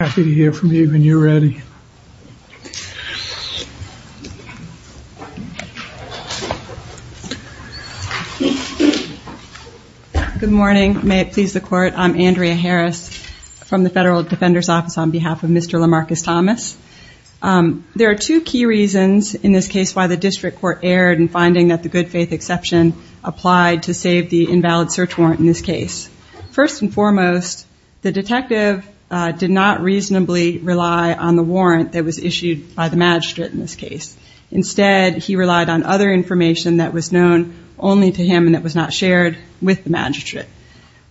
Happy to hear from you when you're ready. Good morning. May it please the court. I'm Andrea Harris from the Federal Defender's Office on behalf of Mr. Lamarcus Thomas. There are two key reasons in this case why the district court erred in finding that the good faith exception applied to save the invalid search warrant in this case. First and foremost, the detective did not reasonably rely on the warrant that was issued by the magistrate in this case. Instead, he relied on other information that was known only to him and that was not shared with the magistrate.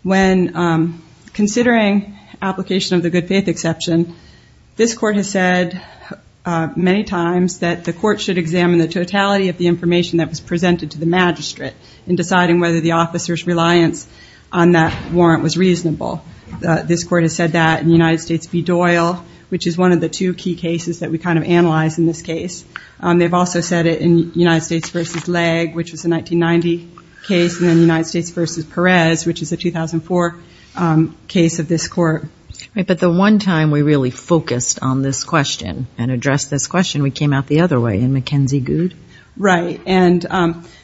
When considering application of the good faith exception, this court has said many times that the court should examine the totality of the information that was shared with the magistrate and that that warrant was reasonable. This court has said that in United States v. Doyle, which is one of the two key cases that we kind of analyzed in this case. They've also said it in United States v. Legg, which was a 1990 case, and then United States v. Perez, which is a 2004 case of this court. But the one time we really focused on this question and addressed this question, we came out the other way in McKenzie Goode. And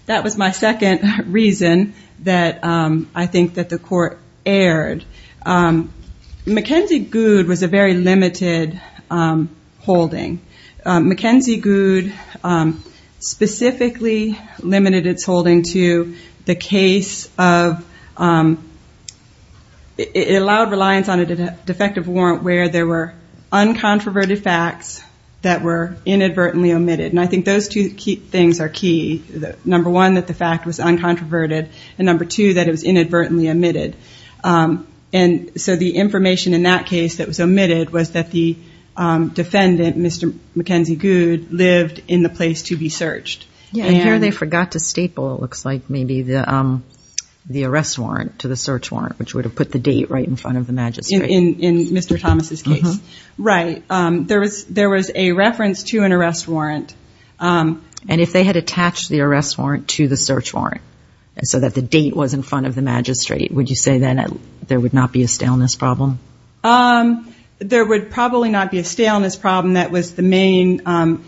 that was my second reason that I think that the court erred. McKenzie Goode was a very limited holding. McKenzie Goode specifically limited its holding to the case of... And I think those two things are key. Number one, that the fact was uncontroverted. And number two, that it was inadvertently omitted. And so the information in that case that was omitted was that the defendant, Mr. McKenzie Goode, lived in the place to be searched. And here they forgot to staple, it looks like, maybe the arrest warrant to the search warrant, which would have put the date right in front of the magistrate. In Mr. Thomas' case. Right. There was a reference to an arrest warrant. And if they had attached the arrest warrant to the search warrant so that the date was in front of the magistrate, would you say then there would not be a staleness problem? There would probably not be a staleness problem that was the main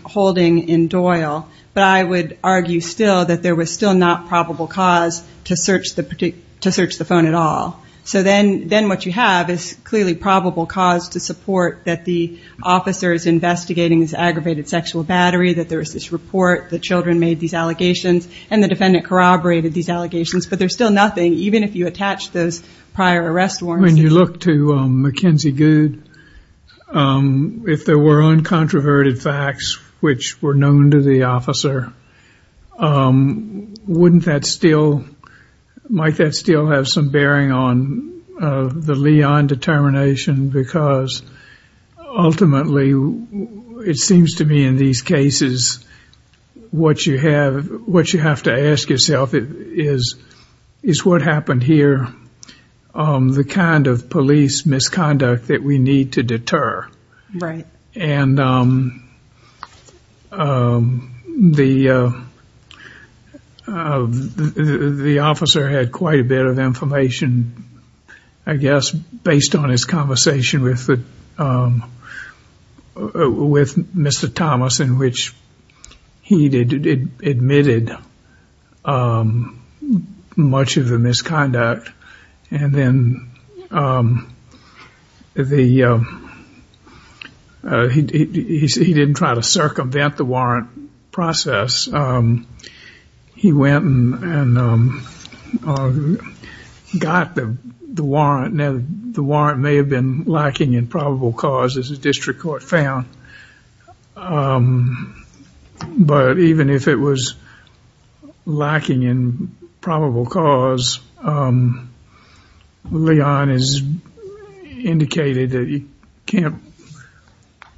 holding in Doyle, but I would argue still that there was still not probable cause to search the phone at all. So then what you have is clearly probable cause to support that the officer is investigating this aggravated sexual battery, that there was this report, the children made these allegations, and the defendant corroborated these allegations. But there's still nothing, even if you attach those prior arrest warrants. When you look to McKenzie Goode, if there were uncontroverted facts which were known to the officer, wouldn't that still, might that still have some bearing on the case? I don't think it would have any bearing on the Leon determination because ultimately it seems to me in these cases what you have to ask yourself is what happened here, the kind of police misconduct that we need to deter. And the officer had quite a bit of information, I guess, based on his conversation with Mr. Thomas in which he admitted much of the misconduct. And then he didn't try to circumvent the warrant process. He went and got the warrant. Now the warrant may have been lacking in probable cause as the district court found. But even if it was lacking in probable cause, Leon has indicated that you can't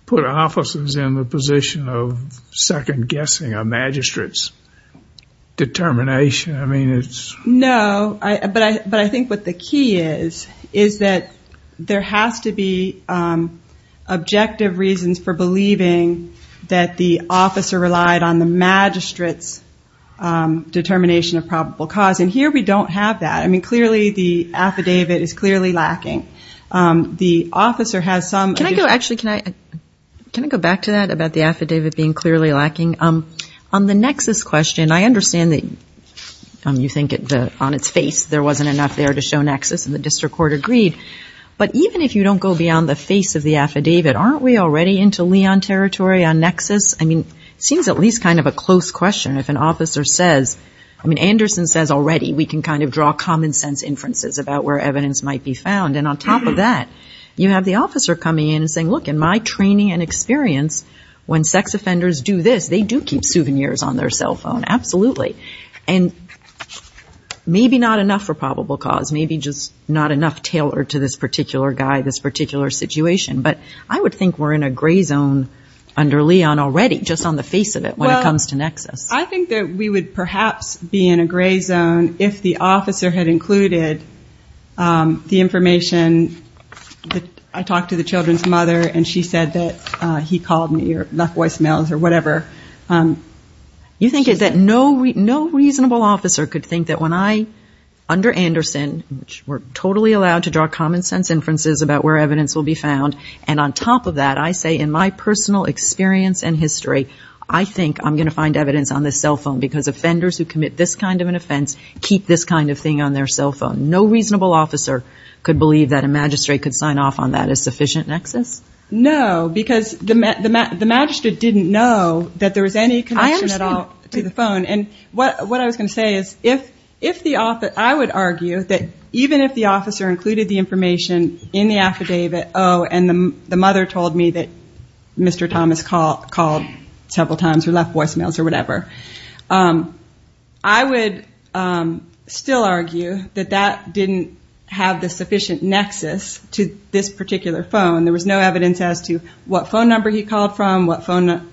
put officers in the position of second guessing a magistrate's determination. No, but I think what the key is, is that there has to be objective reasons for believing that the officer relied on the magistrate's determination of probable cause. And here we don't have that. I mean clearly the affidavit is clearly lacking. Can I go back to that about the affidavit being clearly lacking? On the nexus question, I understand that you think on its face there wasn't enough there to show nexus and the district court agreed. But even if you don't go beyond the face of the affidavit, aren't we already into Leon territory on nexus? I mean it seems at least kind of a close question if an officer says, I mean Anderson says already we can kind of draw common sense inferences about where evidence might be found. And on top of that, you have the officer coming in and saying, look, in my training and experience, when sex offenders do this, they do keep souvenirs on their cell phone. Absolutely. And maybe not enough for probable cause, maybe just not enough tailored to this particular guy, this particular situation. But I would think we're in a gray zone under Leon already just on the face of it when it comes to nexus. I think that we would perhaps be in a gray zone if the officer had included the information that I talked to the children's mother and she said that he called me or left voicemails or whatever. You think that no reasonable officer could think that when I, under Anderson, which we're totally allowed to draw common sense inferences about where evidence will be found, and on top of that, I say in my personal experience and history, I think I'm going to find evidence on my cell phone. Because offenders who commit this kind of an offense keep this kind of thing on their cell phone. No reasonable officer could believe that a magistrate could sign off on that as sufficient nexus? No, because the magistrate didn't know that there was any connection at all to the phone. And what I was going to say is if the officer, I would argue that even if the officer included the information in the affidavit, oh, and the mother told me that Mr. Thomas called several times or left voicemails or whatever. I would still argue that that didn't have the sufficient nexus to this particular phone. There was no evidence as to what phone number he called from, what phone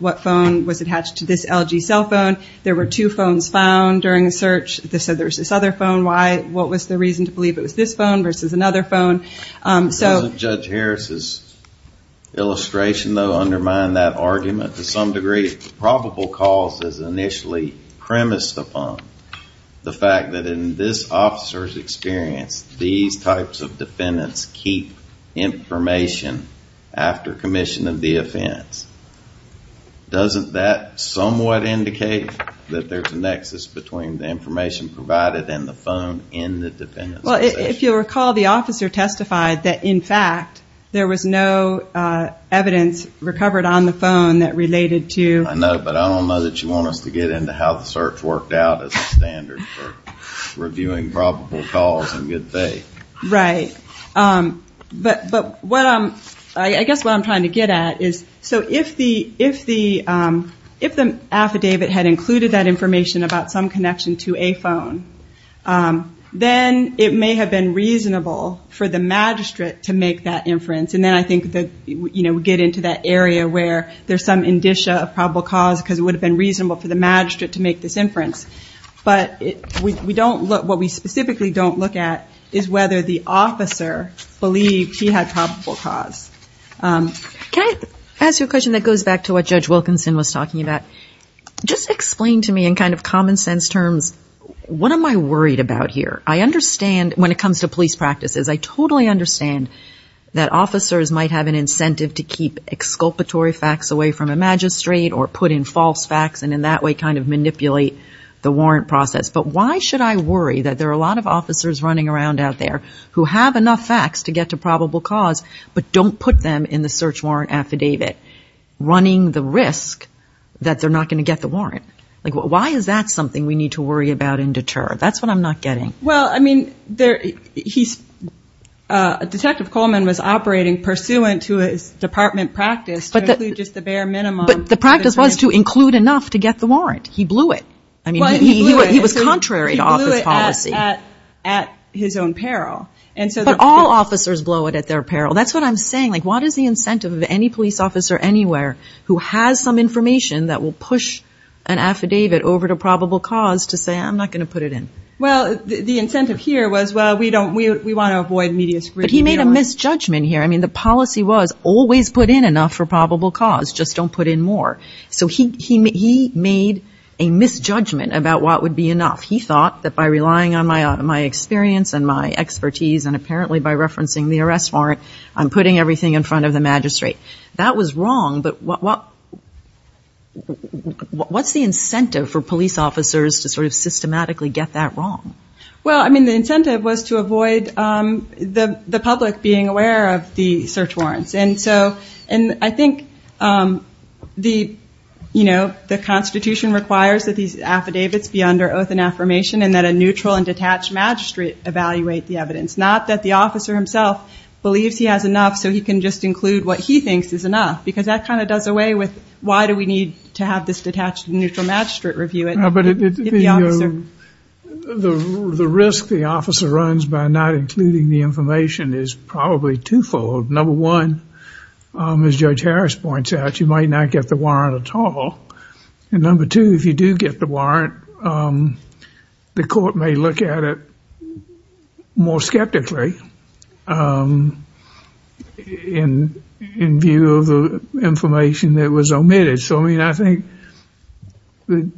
was attached to this LG cell phone. There were two phones found during the search. They said there was this other phone. What was the reason to believe it was this phone versus another phone? Doesn't Judge Harris's illustration, though, undermine that argument? To some degree, probable cause is initially premised upon the fact that in this officer's experience, these types of defendants keep information after commission of the offense. Doesn't that somewhat indicate that there's a nexus between the information provided and the phone in the defendant's possession? Well, if you'll recall, the officer testified that, in fact, there was no evidence recovered on the phone that related to the phone. I know, but I don't know that you want us to get into how the search worked out as a standard for reviewing probable cause in good faith. I guess what I'm trying to get at is if the affidavit had included that information about some connection to a phone, then it may have been reasonable for the magistrate to make that inference. And then I think we get into that area where there's some indicia of probable cause because it would have been reasonable for the magistrate to make this inference. But what we specifically don't look at is whether the officer believed he had probable cause. Can I ask you a question that goes back to what Judge Wilkinson was talking about? Just explain to me in kind of common sense terms, what am I worried about here? I understand when it comes to police practices, I totally understand that officers might have an incentive to keep exculpatory facts away from a magistrate or put in false facts and in that way kind of manipulate the warrant process. But why should I worry that there are a lot of officers running around out there who have enough facts to get to probable cause, but don't put them in the search warrant affidavit, running the risk that they're not going to get the warrant? Why is that something we need to worry about and deter? That's what I'm not getting. Well, I mean, Detective Coleman was operating pursuant to his department practice to include just the bare minimum. But the practice was to include enough to get the warrant. He blew it. He was contrary to office policy. He blew it at his own peril. But all officers blow it at their peril. That's what I'm saying. Like, what is the incentive of any police officer anywhere who has some information that will push an affidavit over to probable cause to say, I'm not going to put it in? Well, the incentive here was, well, we want to avoid media scrutiny. But he made a misjudgment here. I mean, the policy was always put in enough for probable cause, just don't put in more. So he made a misjudgment about what would be enough. He thought that by relying on my experience and my expertise and apparently by referencing the arrest warrant, I'm putting everything in front of the magistrate. That was wrong. But what's the incentive for police officers to sort of systematically get that wrong? Well, I mean, the incentive was to avoid the public being aware of the search warrants. And I think the Constitution requires that these affidavits be under oath and affirmation and that a neutral and detached magistrate evaluate the evidence. Not that the officer himself believes he has enough so he can just include what he thinks is enough. Because that kind of does away with why do we need to have this detached and neutral magistrate review it. The risk the officer runs by not including the information is probably twofold. Number one, as Judge Harris points out, you might not get the warrant at all. And number two, if you do get the warrant, the court may look at it more skeptically in view of the information that was omitted. So, I mean, I think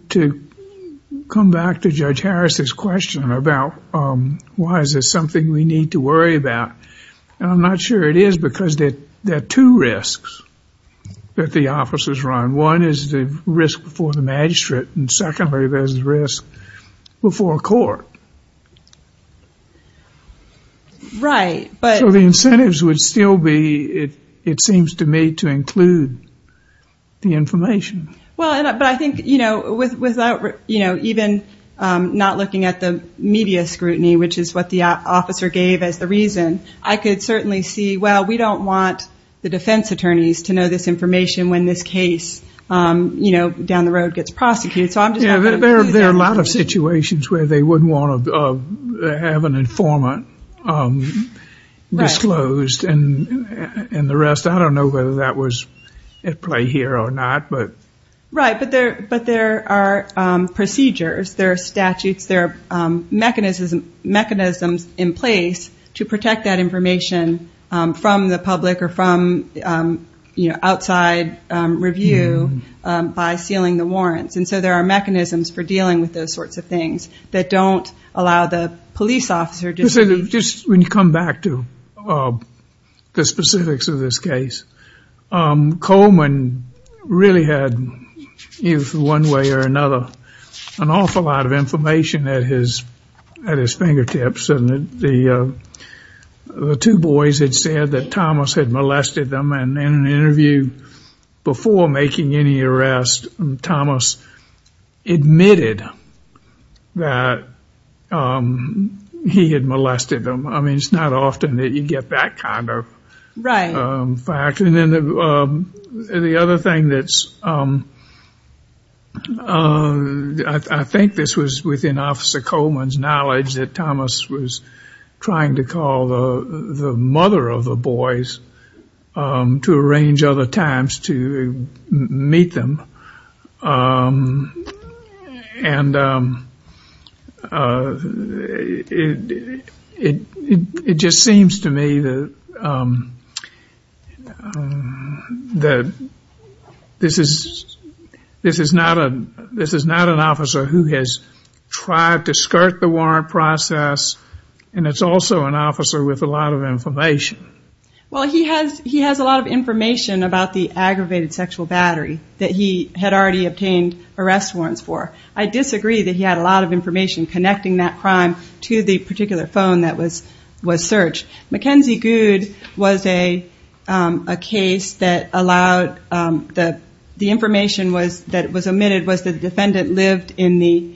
to come back to Judge Harris's question about why is this something we need to worry about. And I'm not sure it is because there are two risks that the officers run. One is the risk before the magistrate. And secondly, there's the risk before a court. So the incentives would still be, it seems to me, to include the information. Well, but I think, you know, even not looking at the media scrutiny, which is what the officer gave as the reason, I could certainly see, well, we don't want the defense attorneys to know this information when this case, you know, down the road gets prosecuted. There are a lot of situations where they wouldn't want to have an informant disclosed. And the rest, I don't know whether that was at play here or not. Right. But there are procedures. There are statutes. There are mechanisms in place to protect that information from the public or from, you know, outside review by sealing the warrants. And so there are mechanisms for dealing with those sorts of things that don't allow the police officer. Just when you come back to the specifics of this case, Coleman really had, either one way or another, an awful lot of information at his fingertips. And the two boys had said that Thomas had molested them. And in an interview before making any arrest, Thomas admitted that he had molested them. I mean, it's not often that you get that kind of fact. And then the other thing that's, I think this was within Officer Coleman's knowledge that Thomas was trying to call the mother of the boys to arrange other times to meet them. And it just seems to me that, I don't know, that this is not an officer who has tried to skirt the warrant process. And it's also an officer with a lot of information. Well, he has a lot of information about the aggravated sexual battery that he had already obtained arrest warrants for. I disagree that he had a lot of information connecting that crime to the particular phone that was searched. Mackenzie Good was a case that allowed, the information that was omitted was that the defendant lived in the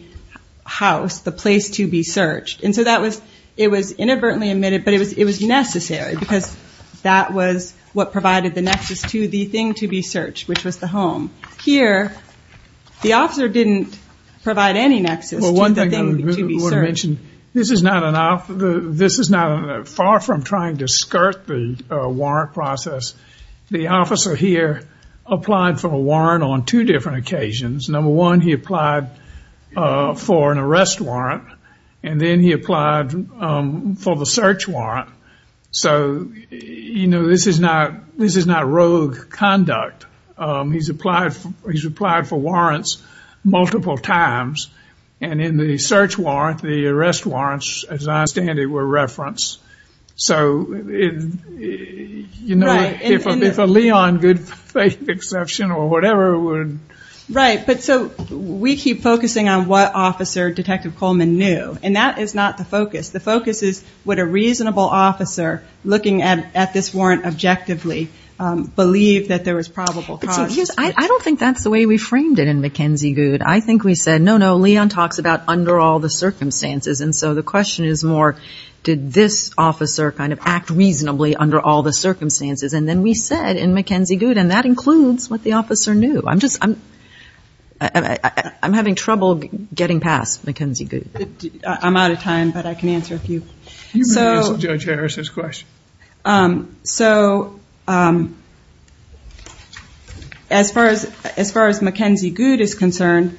house, the place to be searched. And so it was inadvertently omitted, but it was necessary because that was what provided the nexus to the thing to be searched, which was the home. Here, the officer didn't provide any nexus to the thing to be searched. As I mentioned, this is not, far from trying to skirt the warrant process, the officer here applied for a warrant on two different occasions. Number one, he applied for an arrest warrant, and then he applied for the search warrant. So, you know, this is not rogue conduct. He's applied for warrants multiple times. And in the search warrant, the arrest warrants, as I understand it, were referenced. So, you know, if a Leon good faith exception or whatever would... Right, but so we keep focusing on what officer Detective Coleman knew, and that is not the focus. The focus is what a reasonable officer looking at this warrant objectively believed that there was probable cause. I don't think that's the way we framed it in McKenzie Good. I think we said, no, no, Leon talks about under all the circumstances. And so the question is more, did this officer kind of act reasonably under all the circumstances? And then we said in McKenzie Good, and that includes what the officer knew. I'm having trouble getting past McKenzie Good. I'm out of time, but I can answer a few. So as far as McKenzie Good is concerned,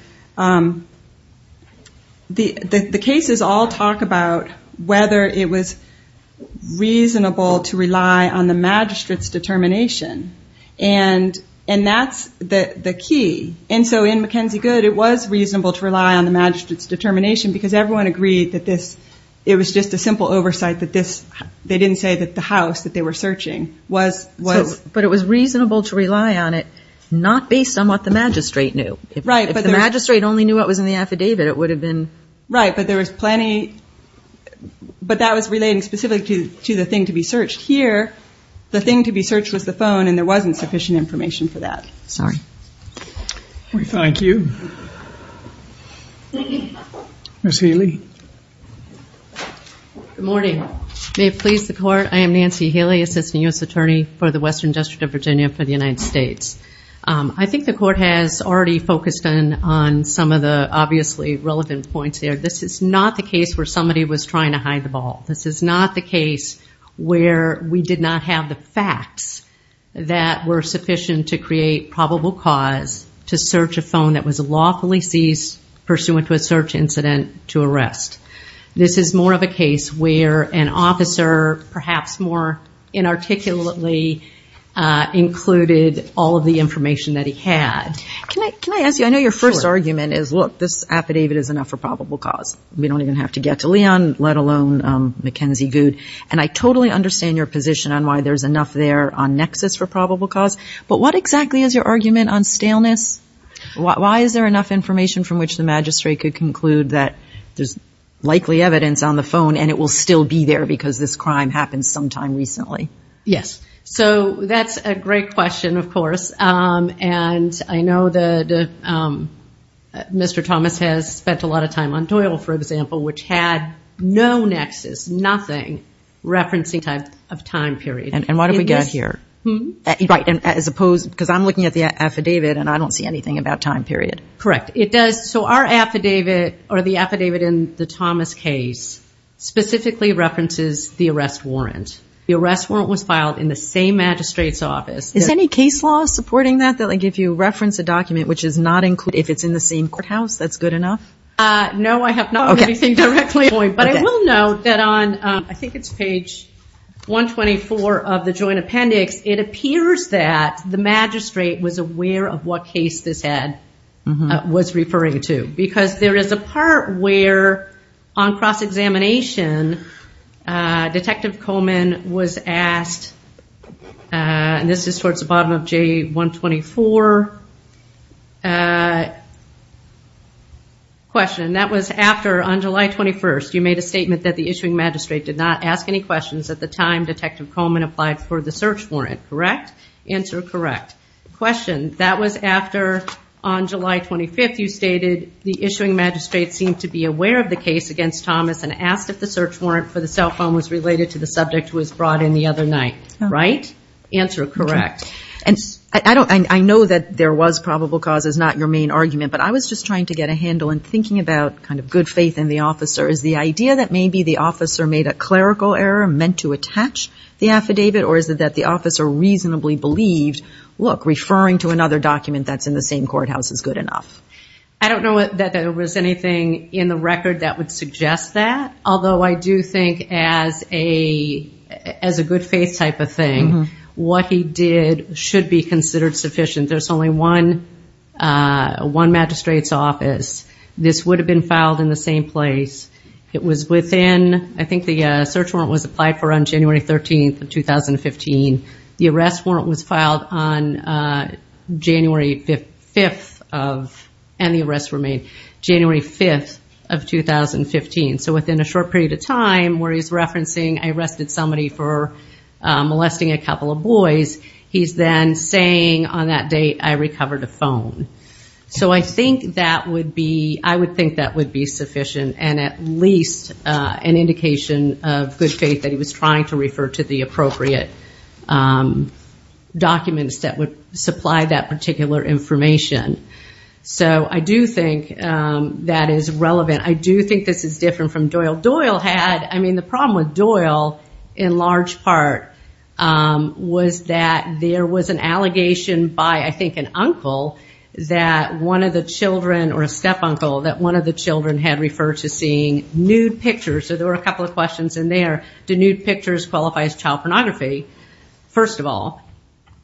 the cases all talk about whether it was reasonable to rely on the magistrate's determination. And that's the key. And so in McKenzie Good, it was reasonable to rely on the magistrate's determination, because everyone agreed that this, it was just a simple oversight. They didn't say that the house that they were searching was... If the magistrate only knew what was in the affidavit, it would have been... Right, but that was relating specifically to the thing to be searched. Here, the thing to be searched was the phone, and there wasn't sufficient information for that. Thank you. Good morning. May it please the Court, I am Nancy Haley, Assistant U.S. Attorney for the Western District of Virginia for the United States. I think the Court has already focused on some of the obviously relevant points there. This is not the case where somebody was trying to hide the ball. This is not the case where we did not have the facts that were sufficient to create probable cause to search a phone that was lawfully seized, pursuant to a search incident, to arrest. This is more of a case where an officer perhaps more inarticulately included all of the facts. Can I ask you, I know your first argument is, look, this affidavit is enough for probable cause. We don't even have to get to Leon, let alone McKenzie Goode. And I totally understand your position on why there's enough there on nexus for probable cause, but what exactly is your argument on staleness? Why is there enough information from which the magistrate could conclude that there's likely evidence on the phone and it will still be there because this crime happened sometime recently? Yes. So that's a great question, of course. And I know that Mr. Thomas has spent a lot of time on Doyle, for example, which had no nexus, nothing, referencing type of time period. And what did we get here? Because I'm looking at the affidavit and I don't see anything about time period. Correct. It does. So our affidavit or the affidavit in the Thomas case specifically references the arrest warrant. The arrest warrant was filed in the same magistrate's office. Is any case law supporting that, that like if you reference a document which is not included, if it's in the same courthouse, that's good enough? No, I have not anything directly in point, but I will note that on, I think it's page 124 of the joint appendix, it appears that the magistrate was aware of what case this had. Was referring to, because there is a part where on cross-examination, Detective Coleman was asked, and this is towards the bottom of J124. Question, that was after on July 21st, you made a statement that the issuing magistrate did not ask any questions at the time Detective Coleman applied for the search warrant, correct? Answer, correct. Question, that was after on July 25th, you stated the issuing magistrate seemed to be aware of the case against Thomas and asked if the search warrant for the cell phone was related to the subject who was brought in the other night, right? Answer, correct. And I know that there was probable causes, not your main argument, but I was just trying to get a handle and thinking about kind of good faith in the officer. Is the idea that maybe the officer made a clerical error meant to attach the affidavit, or is it that the officer reasonably knew what he was doing? Or reasonably believed, look, referring to another document that's in the same courthouse is good enough? I don't know that there was anything in the record that would suggest that. Although I do think as a good faith type of thing, what he did should be considered sufficient. There's only one magistrate's office. This would have been filed in the same place. It was within, I think the search warrant was applied for on January 13th of 2015. The arrest warrant was filed on January 5th of, and the arrests were made, January 5th of 2015. So within a short period of time where he's referencing I arrested somebody for molesting a couple of boys, he's then saying on that date I recovered a phone. So I think that would be, I would think that would be sufficient and at least an indication of good faith that he was trying to refer to the appropriate documents that would supply that particular information. So I do think that is relevant. I do think this is different from Doyle. Doyle had, I mean the problem with Doyle in large part was that there was an allegation by I think an uncle that one of the children or a step uncle that one of the children had referred to seeing nude pictures. So there were a couple of questions in there. Do nude pictures qualify as child pornography, first of all?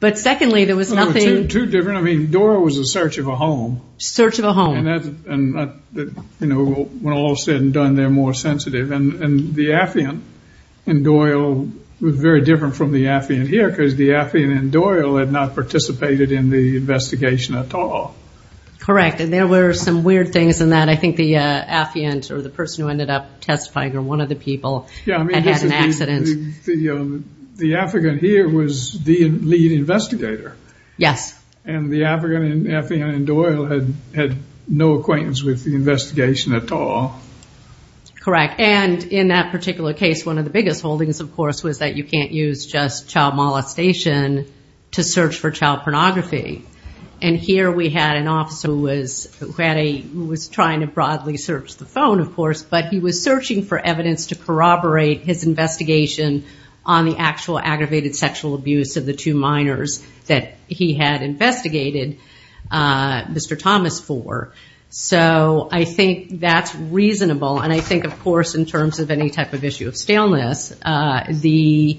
But secondly there was nothing. Two different, I mean Doyle was a search of a home. Search of a home. And when all is said and done they're more sensitive. And the affiant in Doyle was very different from the affiant here because the affiant in Doyle had not participated in the investigation at all. Correct and there were some weird things in that. I think the affiant or the person who ended up testifying or one of the people had had an accident. The affiant here was the lead investigator. Yes. And the affiant in Doyle had no acquaintance with the investigation at all. Correct. And in that particular case one of the biggest holdings of course was that you can't use just child molestation to search for child pornography. And here we had an officer who was trying to broadly search the phone of course, but he was searching for evidence to corroborate his investigation on the actual aggravated sexual abuse of the two minors that he had investigated Mr. Thomas for. So I think that's reasonable. And I think of course in terms of any type of issue of staleness, the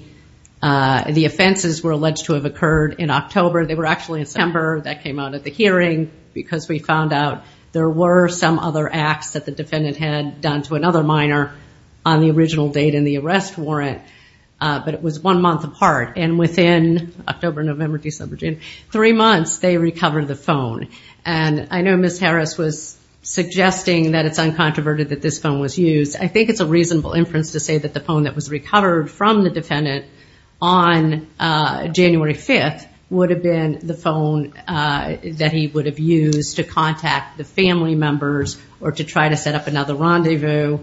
offenses were alleged to have occurred in October. They were actually in September. That came out at the hearing because we found out there were some other acts that the defendant had done to another minor on the original date in the arrest warrant. But it was one month apart. And within October, November, December, January, three months they recovered the phone. And I know Ms. Harris was suggesting that it's uncontroverted that this phone was used. I think it's a reasonable inference to say that the phone that was recovered from the defendant on January 5th would have been the phone that he would have used to contact the family members or to try to set up another rendezvous with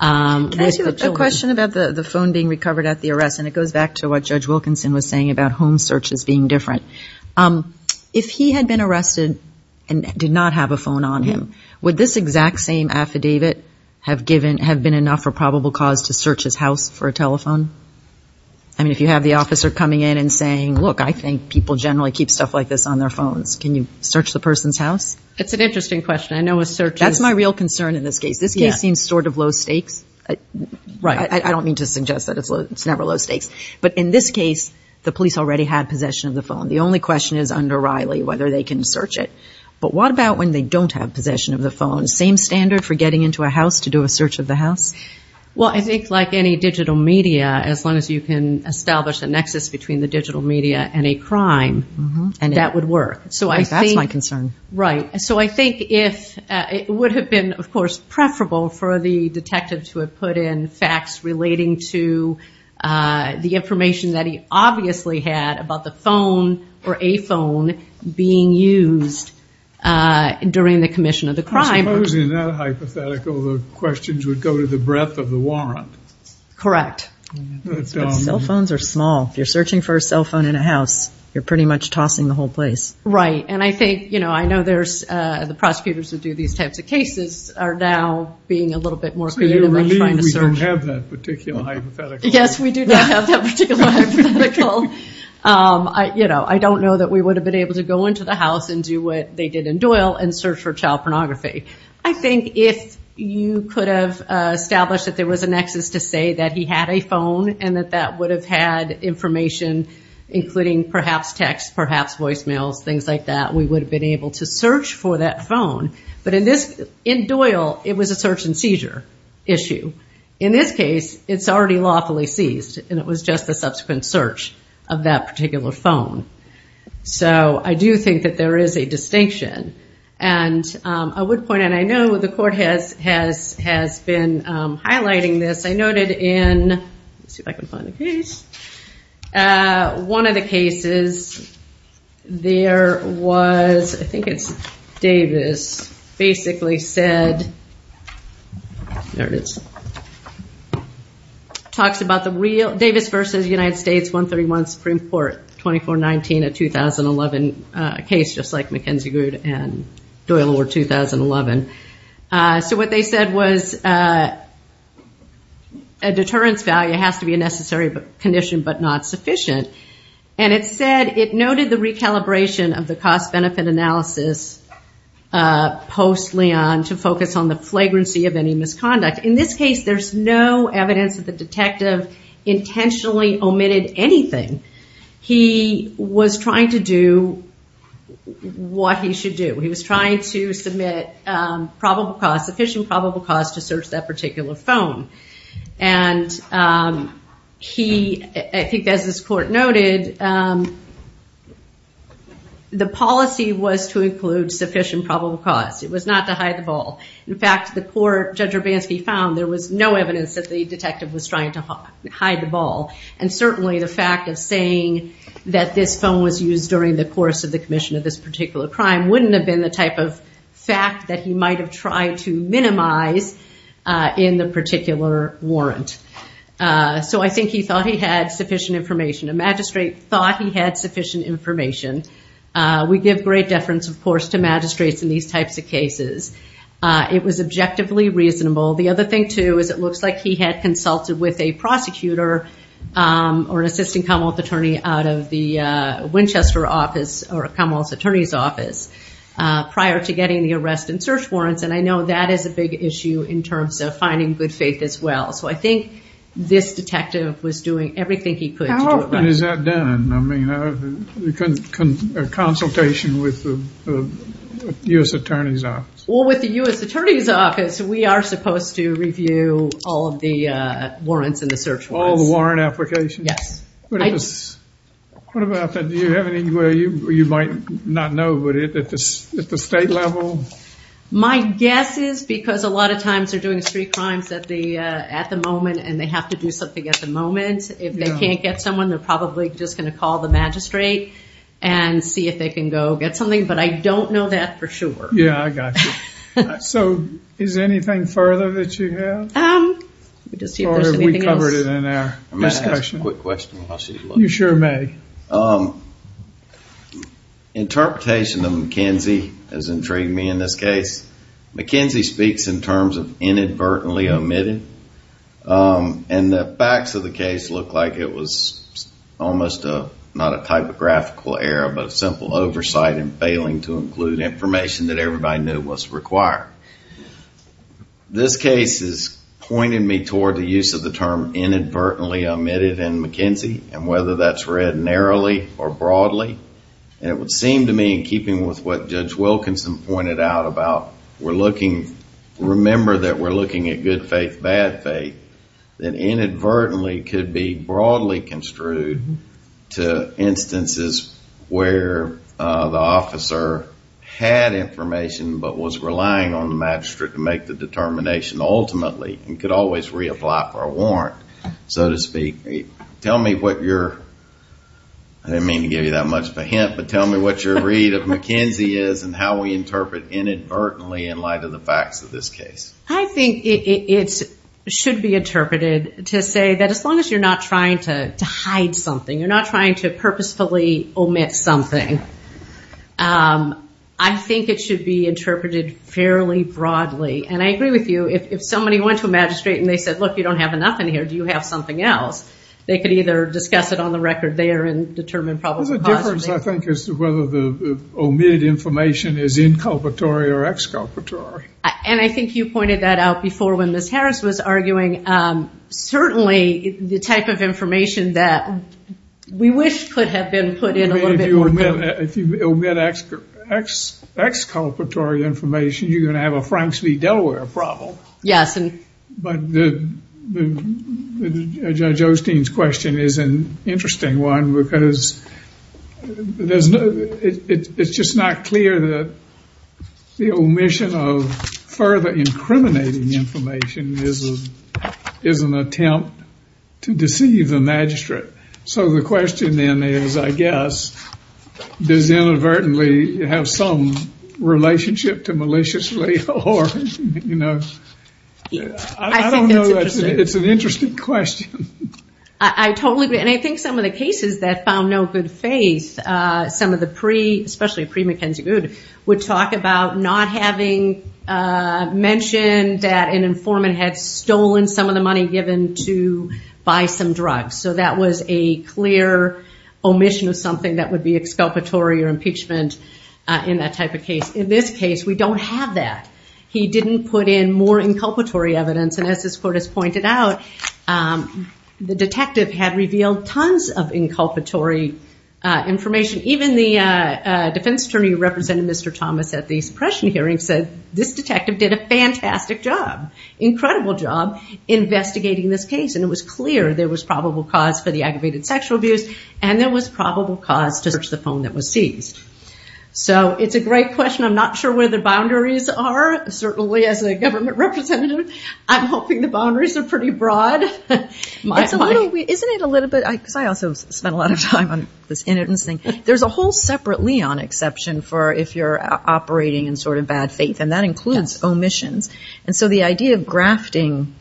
the children. The question about the phone being recovered at the arrest, and it goes back to what Judge Wilkinson was saying about home searches being different. If he had been arrested and did not have a phone on him, would this exact same affidavit have been enough for probable cause to search his house for a telephone? I mean, if you have the officer coming in and saying, look, I think people generally keep stuff like this on their phones. Can you search the person's house? That's my real concern in this case. This case seems sort of low stakes. I don't mean to suggest that it's never low stakes. But in this case, the police already had possession of the phone. The only question is under Riley whether they can search it. But what about when they don't have possession of the phone? Same standard for getting into a house to do a search of the house? Well, I think like any digital media, as long as you can establish a nexus between the digital media and a crime, that would work. That's my concern. Right. So I think it would have been, of course, preferable for the detective to have put in facts relating to the information that he obviously had about the phone or a phone being used during the commission of the crime. I'm supposing in that hypothetical, the questions would go to the breadth of the warrant. Correct. Cell phones are small. If you're searching for a cell phone in a house, you're pretty much tossing the whole place. Right. And I think, you know, I know there's the prosecutors who do these types of cases are now being a little bit more creative in trying to search. We don't have that particular hypothetical. Yes, we do not have that particular hypothetical. I don't know that we would have been able to go into the house and do what they did in Doyle and search for child pornography. I think if you could have established that there was a nexus to say that he had a phone and that that would have had information, including perhaps text, perhaps voicemails, things like that, we would have been able to search for that phone. But in this, in Doyle, it was a search and seizure issue. In this case, it's already lawfully seized and it was just the subsequent search of that particular phone. So I do think that there is a distinction. And I would point out, I know the court has been highlighting this. I noted in, let's see if I can find the case. One of the cases, there was, I think it's Davis, basically said, there it is, talks about the real Davis versus United States 131 Supreme Court 2419, a 2011 case, just like McKenzie Groot and Doyle or 2011. So what they said was a deterrence value has to be a necessary condition but not sufficient. And it said, it noted the recalibration of the cost benefit analysis post Leon to focus on the flagrancy of any misconduct. In this case, there's no evidence that the detective intentionally omitted anything. He was trying to do what he should do. He was trying to submit probable cost, sufficient probable cost to search that particular phone. And he, I think as this court noted, the policy was to include sufficient probable cost. It was not to hide the ball. In fact, the court, Judge Urbanski found there was no evidence that the detective was trying to hide the ball. And certainly the fact of saying that this phone was used during the course of the commission of this particular crime wouldn't have been the type of fact that he might have tried to minimize in the particular warrant. So I think he thought he had sufficient information. A magistrate thought he had sufficient information. We give great deference, of course, to magistrates in these types of cases. It was objectively reasonable. The other thing too is it looks like he had a lot of the Winchester office or Commonwealth Attorney's office prior to getting the arrest and search warrants. And I know that is a big issue in terms of finding good faith as well. So I think this detective was doing everything he could to do it right. How often is that done? I mean, a consultation with the U.S. Attorney's office? Well, with the U.S. Attorney's office, we are supposed to review all of the warrants and the search warrants. All the warrant applications? Yes. What about that? Do you have any where you might not know, but at the state level? My guess is because a lot of times they're doing street crimes at the moment and they have to do something at the moment. If they can't get someone, they're probably just going to call the magistrate and see if they can go get something. But I don't know that for sure. Yeah, I got you. So is there anything further that you have? Or have we covered it in our discussion? I might ask a quick question while she looks. You sure may. Interpretation of McKenzie has intrigued me in this case. McKenzie speaks in terms of inadvertently omitting. And the facts of the case look like it was almost a, not a typographical error, but a simple oversight in failing to include information that everybody knew was required. This case has pointed me toward the use of the term inadvertently omitted in McKenzie and whether that's read narrowly or broadly. And it would seem to me in keeping with what Judge Wilkinson pointed out about we're looking, remember that we're looking at good faith, bad faith, that inadvertently could be broadly construed to instances where the officer had information but was relying on the magistrate to make the determination ultimately and could always reapply for a warrant, so to speak. Tell me what your, I didn't mean to give you that much of a hint, but tell me what your read of McKenzie is and how we interpret inadvertently in light of the facts of this case. I think it should be interpreted to say that as long as you're not trying to hide something, you're not trying to purposefully omit something, I think it should be interpreted fairly broadly. And I agree with you. If somebody went to a magistrate and they said, look, you don't have enough in here, do you have something else? They could either discuss it on the record there and exculpatory or exculpatory. And I think you pointed that out before when Ms. Harris was arguing certainly the type of information that we wish could have been put in a little bit more clearly. If you omit exculpatory information, you're going to have a Franks v. Delaware problem. Yes. But Judge Osteen's question is an interesting one because it's just not clear that the omission of further incriminating information is an attempt to deceive the magistrate. So the question then is, I guess, does inadvertently have some relationship to maliciously or I don't know, it's an interesting question. I totally agree. And I think some of the cases that found no good faith, especially pre-McKenzie Goode, would talk about not having mentioned that an informant had stolen some of the money given to buy some drugs. So that was a clear omission of something that would be exculpatory or impeachment in that type of case. In this case, we don't have that. He didn't put in more inculpatory evidence. And as this court has pointed out, the detective had revealed tons of inculpatory information. Even the defense attorney who represented Mr. Thomas at the suppression hearing said, this detective did a fantastic job, incredible job investigating this case. And it was clear there was probable cause for the aggravated sexual abuse and there was probable cause to search the phone that was seized. So it's a great question. I'm not sure where the boundaries are. Certainly as a government representative, I'm hoping the boundaries are pretty broad. Isn't it a little bit, because I also spent a lot of time on this thing. There's a whole separate Leon exception for if you're operating in sort of bad faith. And that includes omissions. And so the idea of grafting,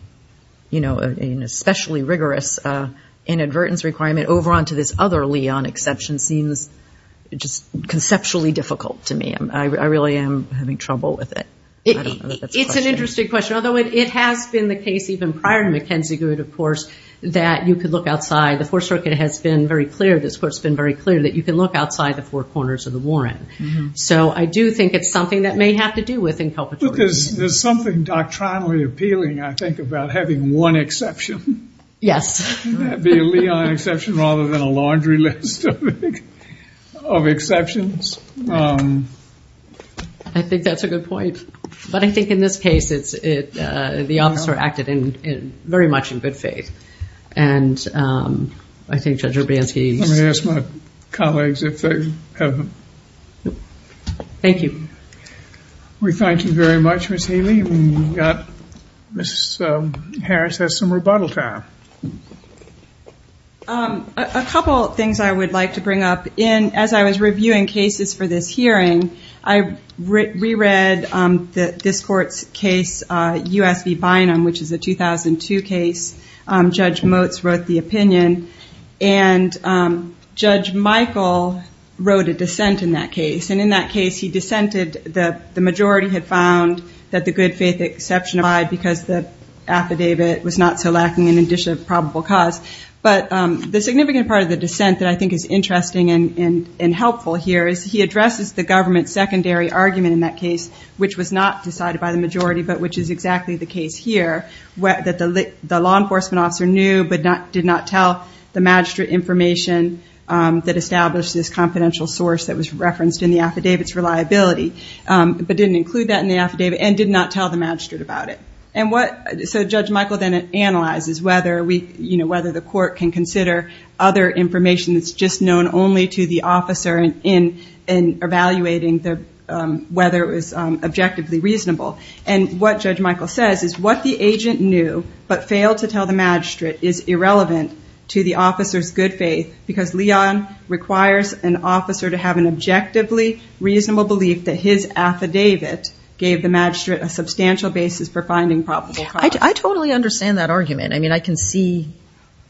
you know, an especially rigorous inadvertence requirement over onto this other Leon exception seems just conceptually difficult to me. I really am having trouble with it. It's an interesting question, although it has been the case even prior to McKenzie Goode, of course, that you could look outside. The Fourth Circuit has been very clear. This court's been very clear that you can look outside the four corners of the Warren. So I do think it's something that may have to do with inculpatory. There's something doctrinally appealing, I think, about having one exception. Yes. The Leon exception rather than a laundry list of exceptions. I think that's a good point. But I think in this case, the officer acted very much in good faith. And I think Judge Urbanski. Let me ask my colleagues if they have. Thank you. We thank you very much, Ms. Haley. Ms. Harris has some rebuttal time. A couple of things I would like to bring up. As I was reviewing cases for this hearing, I reread this court's case, US v. Bynum, which is a 2002 case. Judge Motz wrote the opinion. And Judge Michael wrote a dissent in that case. And in that case, he dissented that the majority had found that the good faith exception applied because the affidavit was not so lacking in addition of probable cause. But the significant part of the dissent that I think is interesting and helpful here is he addresses the government's secondary argument in that case, which was not decided by the majority, but which is exactly the case here, that the law enforcement officer knew but did not tell the magistrate information that established this confidential source that was referenced in the affidavit's reliability, but didn't include that in the affidavit and did not tell the magistrate about it. So Judge Michael then analyzes whether the court can consider other information that's just known only to the officer in evaluating whether it was objectively reasonable. And what Judge Michael says is what the agent knew but failed to tell the magistrate is irrelevant to the officer's good faith because Leon requires an officer to have an objectively reasonable belief that his affidavit gave the magistrate a substantial basis for finding probable cause. I totally understand that argument. I mean, I can see,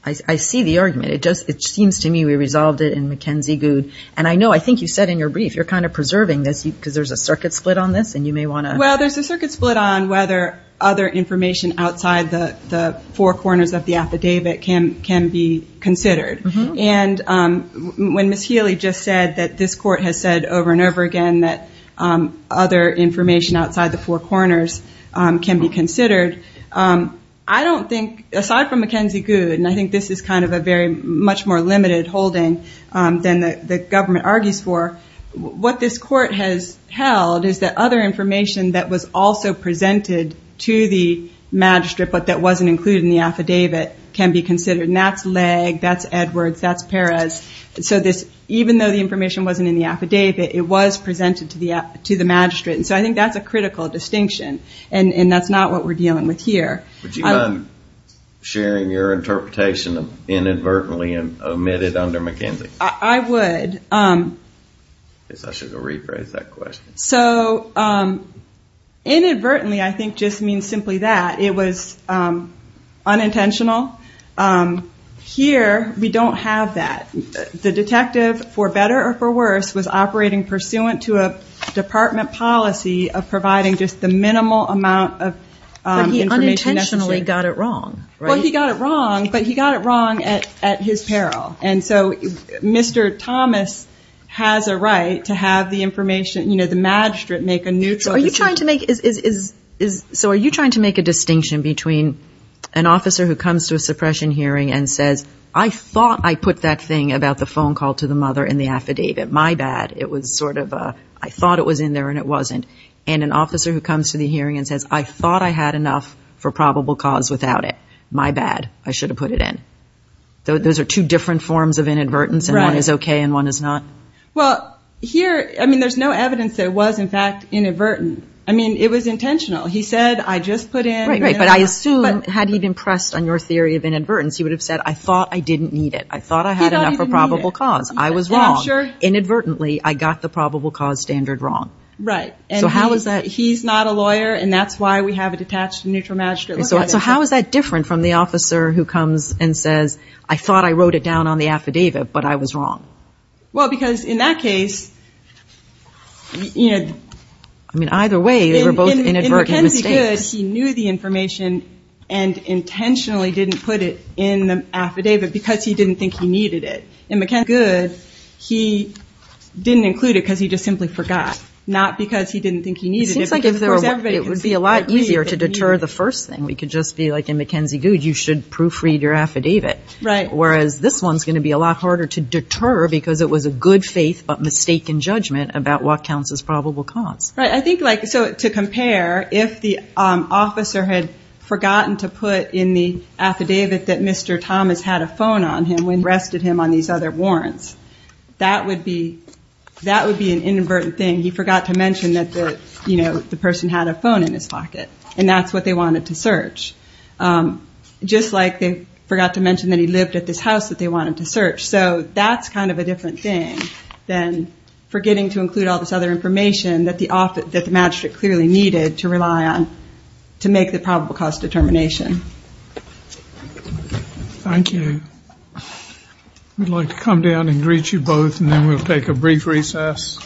I see the argument. It seems to me we resolved it in McKenzie Goode. And I know, I think you said in your brief, you're kind of preserving this because there's a circuit split on this and you may want to. Well, there's a circuit split on whether other information outside the four corners of the affidavit can be considered. And when Ms. Healy just said that this court has said over and over again that other information outside the four corners can be considered, I don't think, aside from McKenzie Goode, and I think this is kind of a very much more limited holding than the government argues for, what this court has held is that other information that was also presented to the magistrate but that wasn't included in the affidavit can be considered. And that's Legg, that's Edwards, that's Perez. So even though the information wasn't in the affidavit, it was presented to the magistrate. And so I think that's a critical distinction, and that's not what we're dealing with here. Would you mind sharing your interpretation of inadvertently omitted under McKenzie? I would. I guess I should rephrase that question. So inadvertently I think just means simply that. It was unintentional. Here we don't have that. The detective, for better or for worse, was operating pursuant to a department policy of providing just the minimal amount of information necessary. But he unintentionally got it wrong, right? Well, he got it wrong, but he got it wrong at his peril. And so Mr. Thomas has a right to have the information, you know, the magistrate make a neutral decision. So are you trying to make a distinction between an officer who comes to a suppression hearing and says, I thought I put that thing about the phone call to the mother in the affidavit. My bad. It was sort of a I thought it was in there and it wasn't. And an officer who comes to the hearing and says, I thought I had enough for probable cause without it. My bad. I should have put it in. Those are two different forms of inadvertence and one is okay and one is not. Well, here, I mean, there's no evidence that it was, in fact, inadvertent. I mean, it was intentional. He said, I just put in. Right, but I assume had he been pressed on your theory of inadvertence, he would have said, I thought I didn't need it. I thought I had enough for probable cause. I was wrong. Inadvertently I got the probable cause standard wrong. Right. So how is that? He's not a lawyer and that's why we have it attached to neutral magistrate. So how is that different from the officer who comes and says, I thought I wrote it down on the affidavit, but I was wrong? Well, because in that case, you know. I mean, either way, they're both inadvertent mistakes. In McKenzie Goode, he knew the information and intentionally didn't put it in the affidavit because he didn't think he needed it. In McKenzie Goode, he didn't include it because he just simply forgot, not because he didn't think he needed it. It would be a lot easier to deter the first thing. We could just be like in McKenzie Goode, you should proofread your affidavit. Right. Whereas this one's going to be a lot harder to deter because it was a good faith but mistaken judgment about what counts as probable cause. Right. So to compare, if the officer had forgotten to put in the affidavit that Mr. Thomas had a phone on him when he arrested him on these other warrants, that would be an inadvertent thing. He forgot to mention that the person had a phone in his pocket, and that's what they wanted to search. Just like they forgot to mention that he lived at this house that they wanted to search. So that's kind of a different thing than forgetting to include all this other information that the magistrate clearly needed to rely on to make the probable cause determination. Thank you. We'd like to come down and greet you both, and then we'll take a brief recess.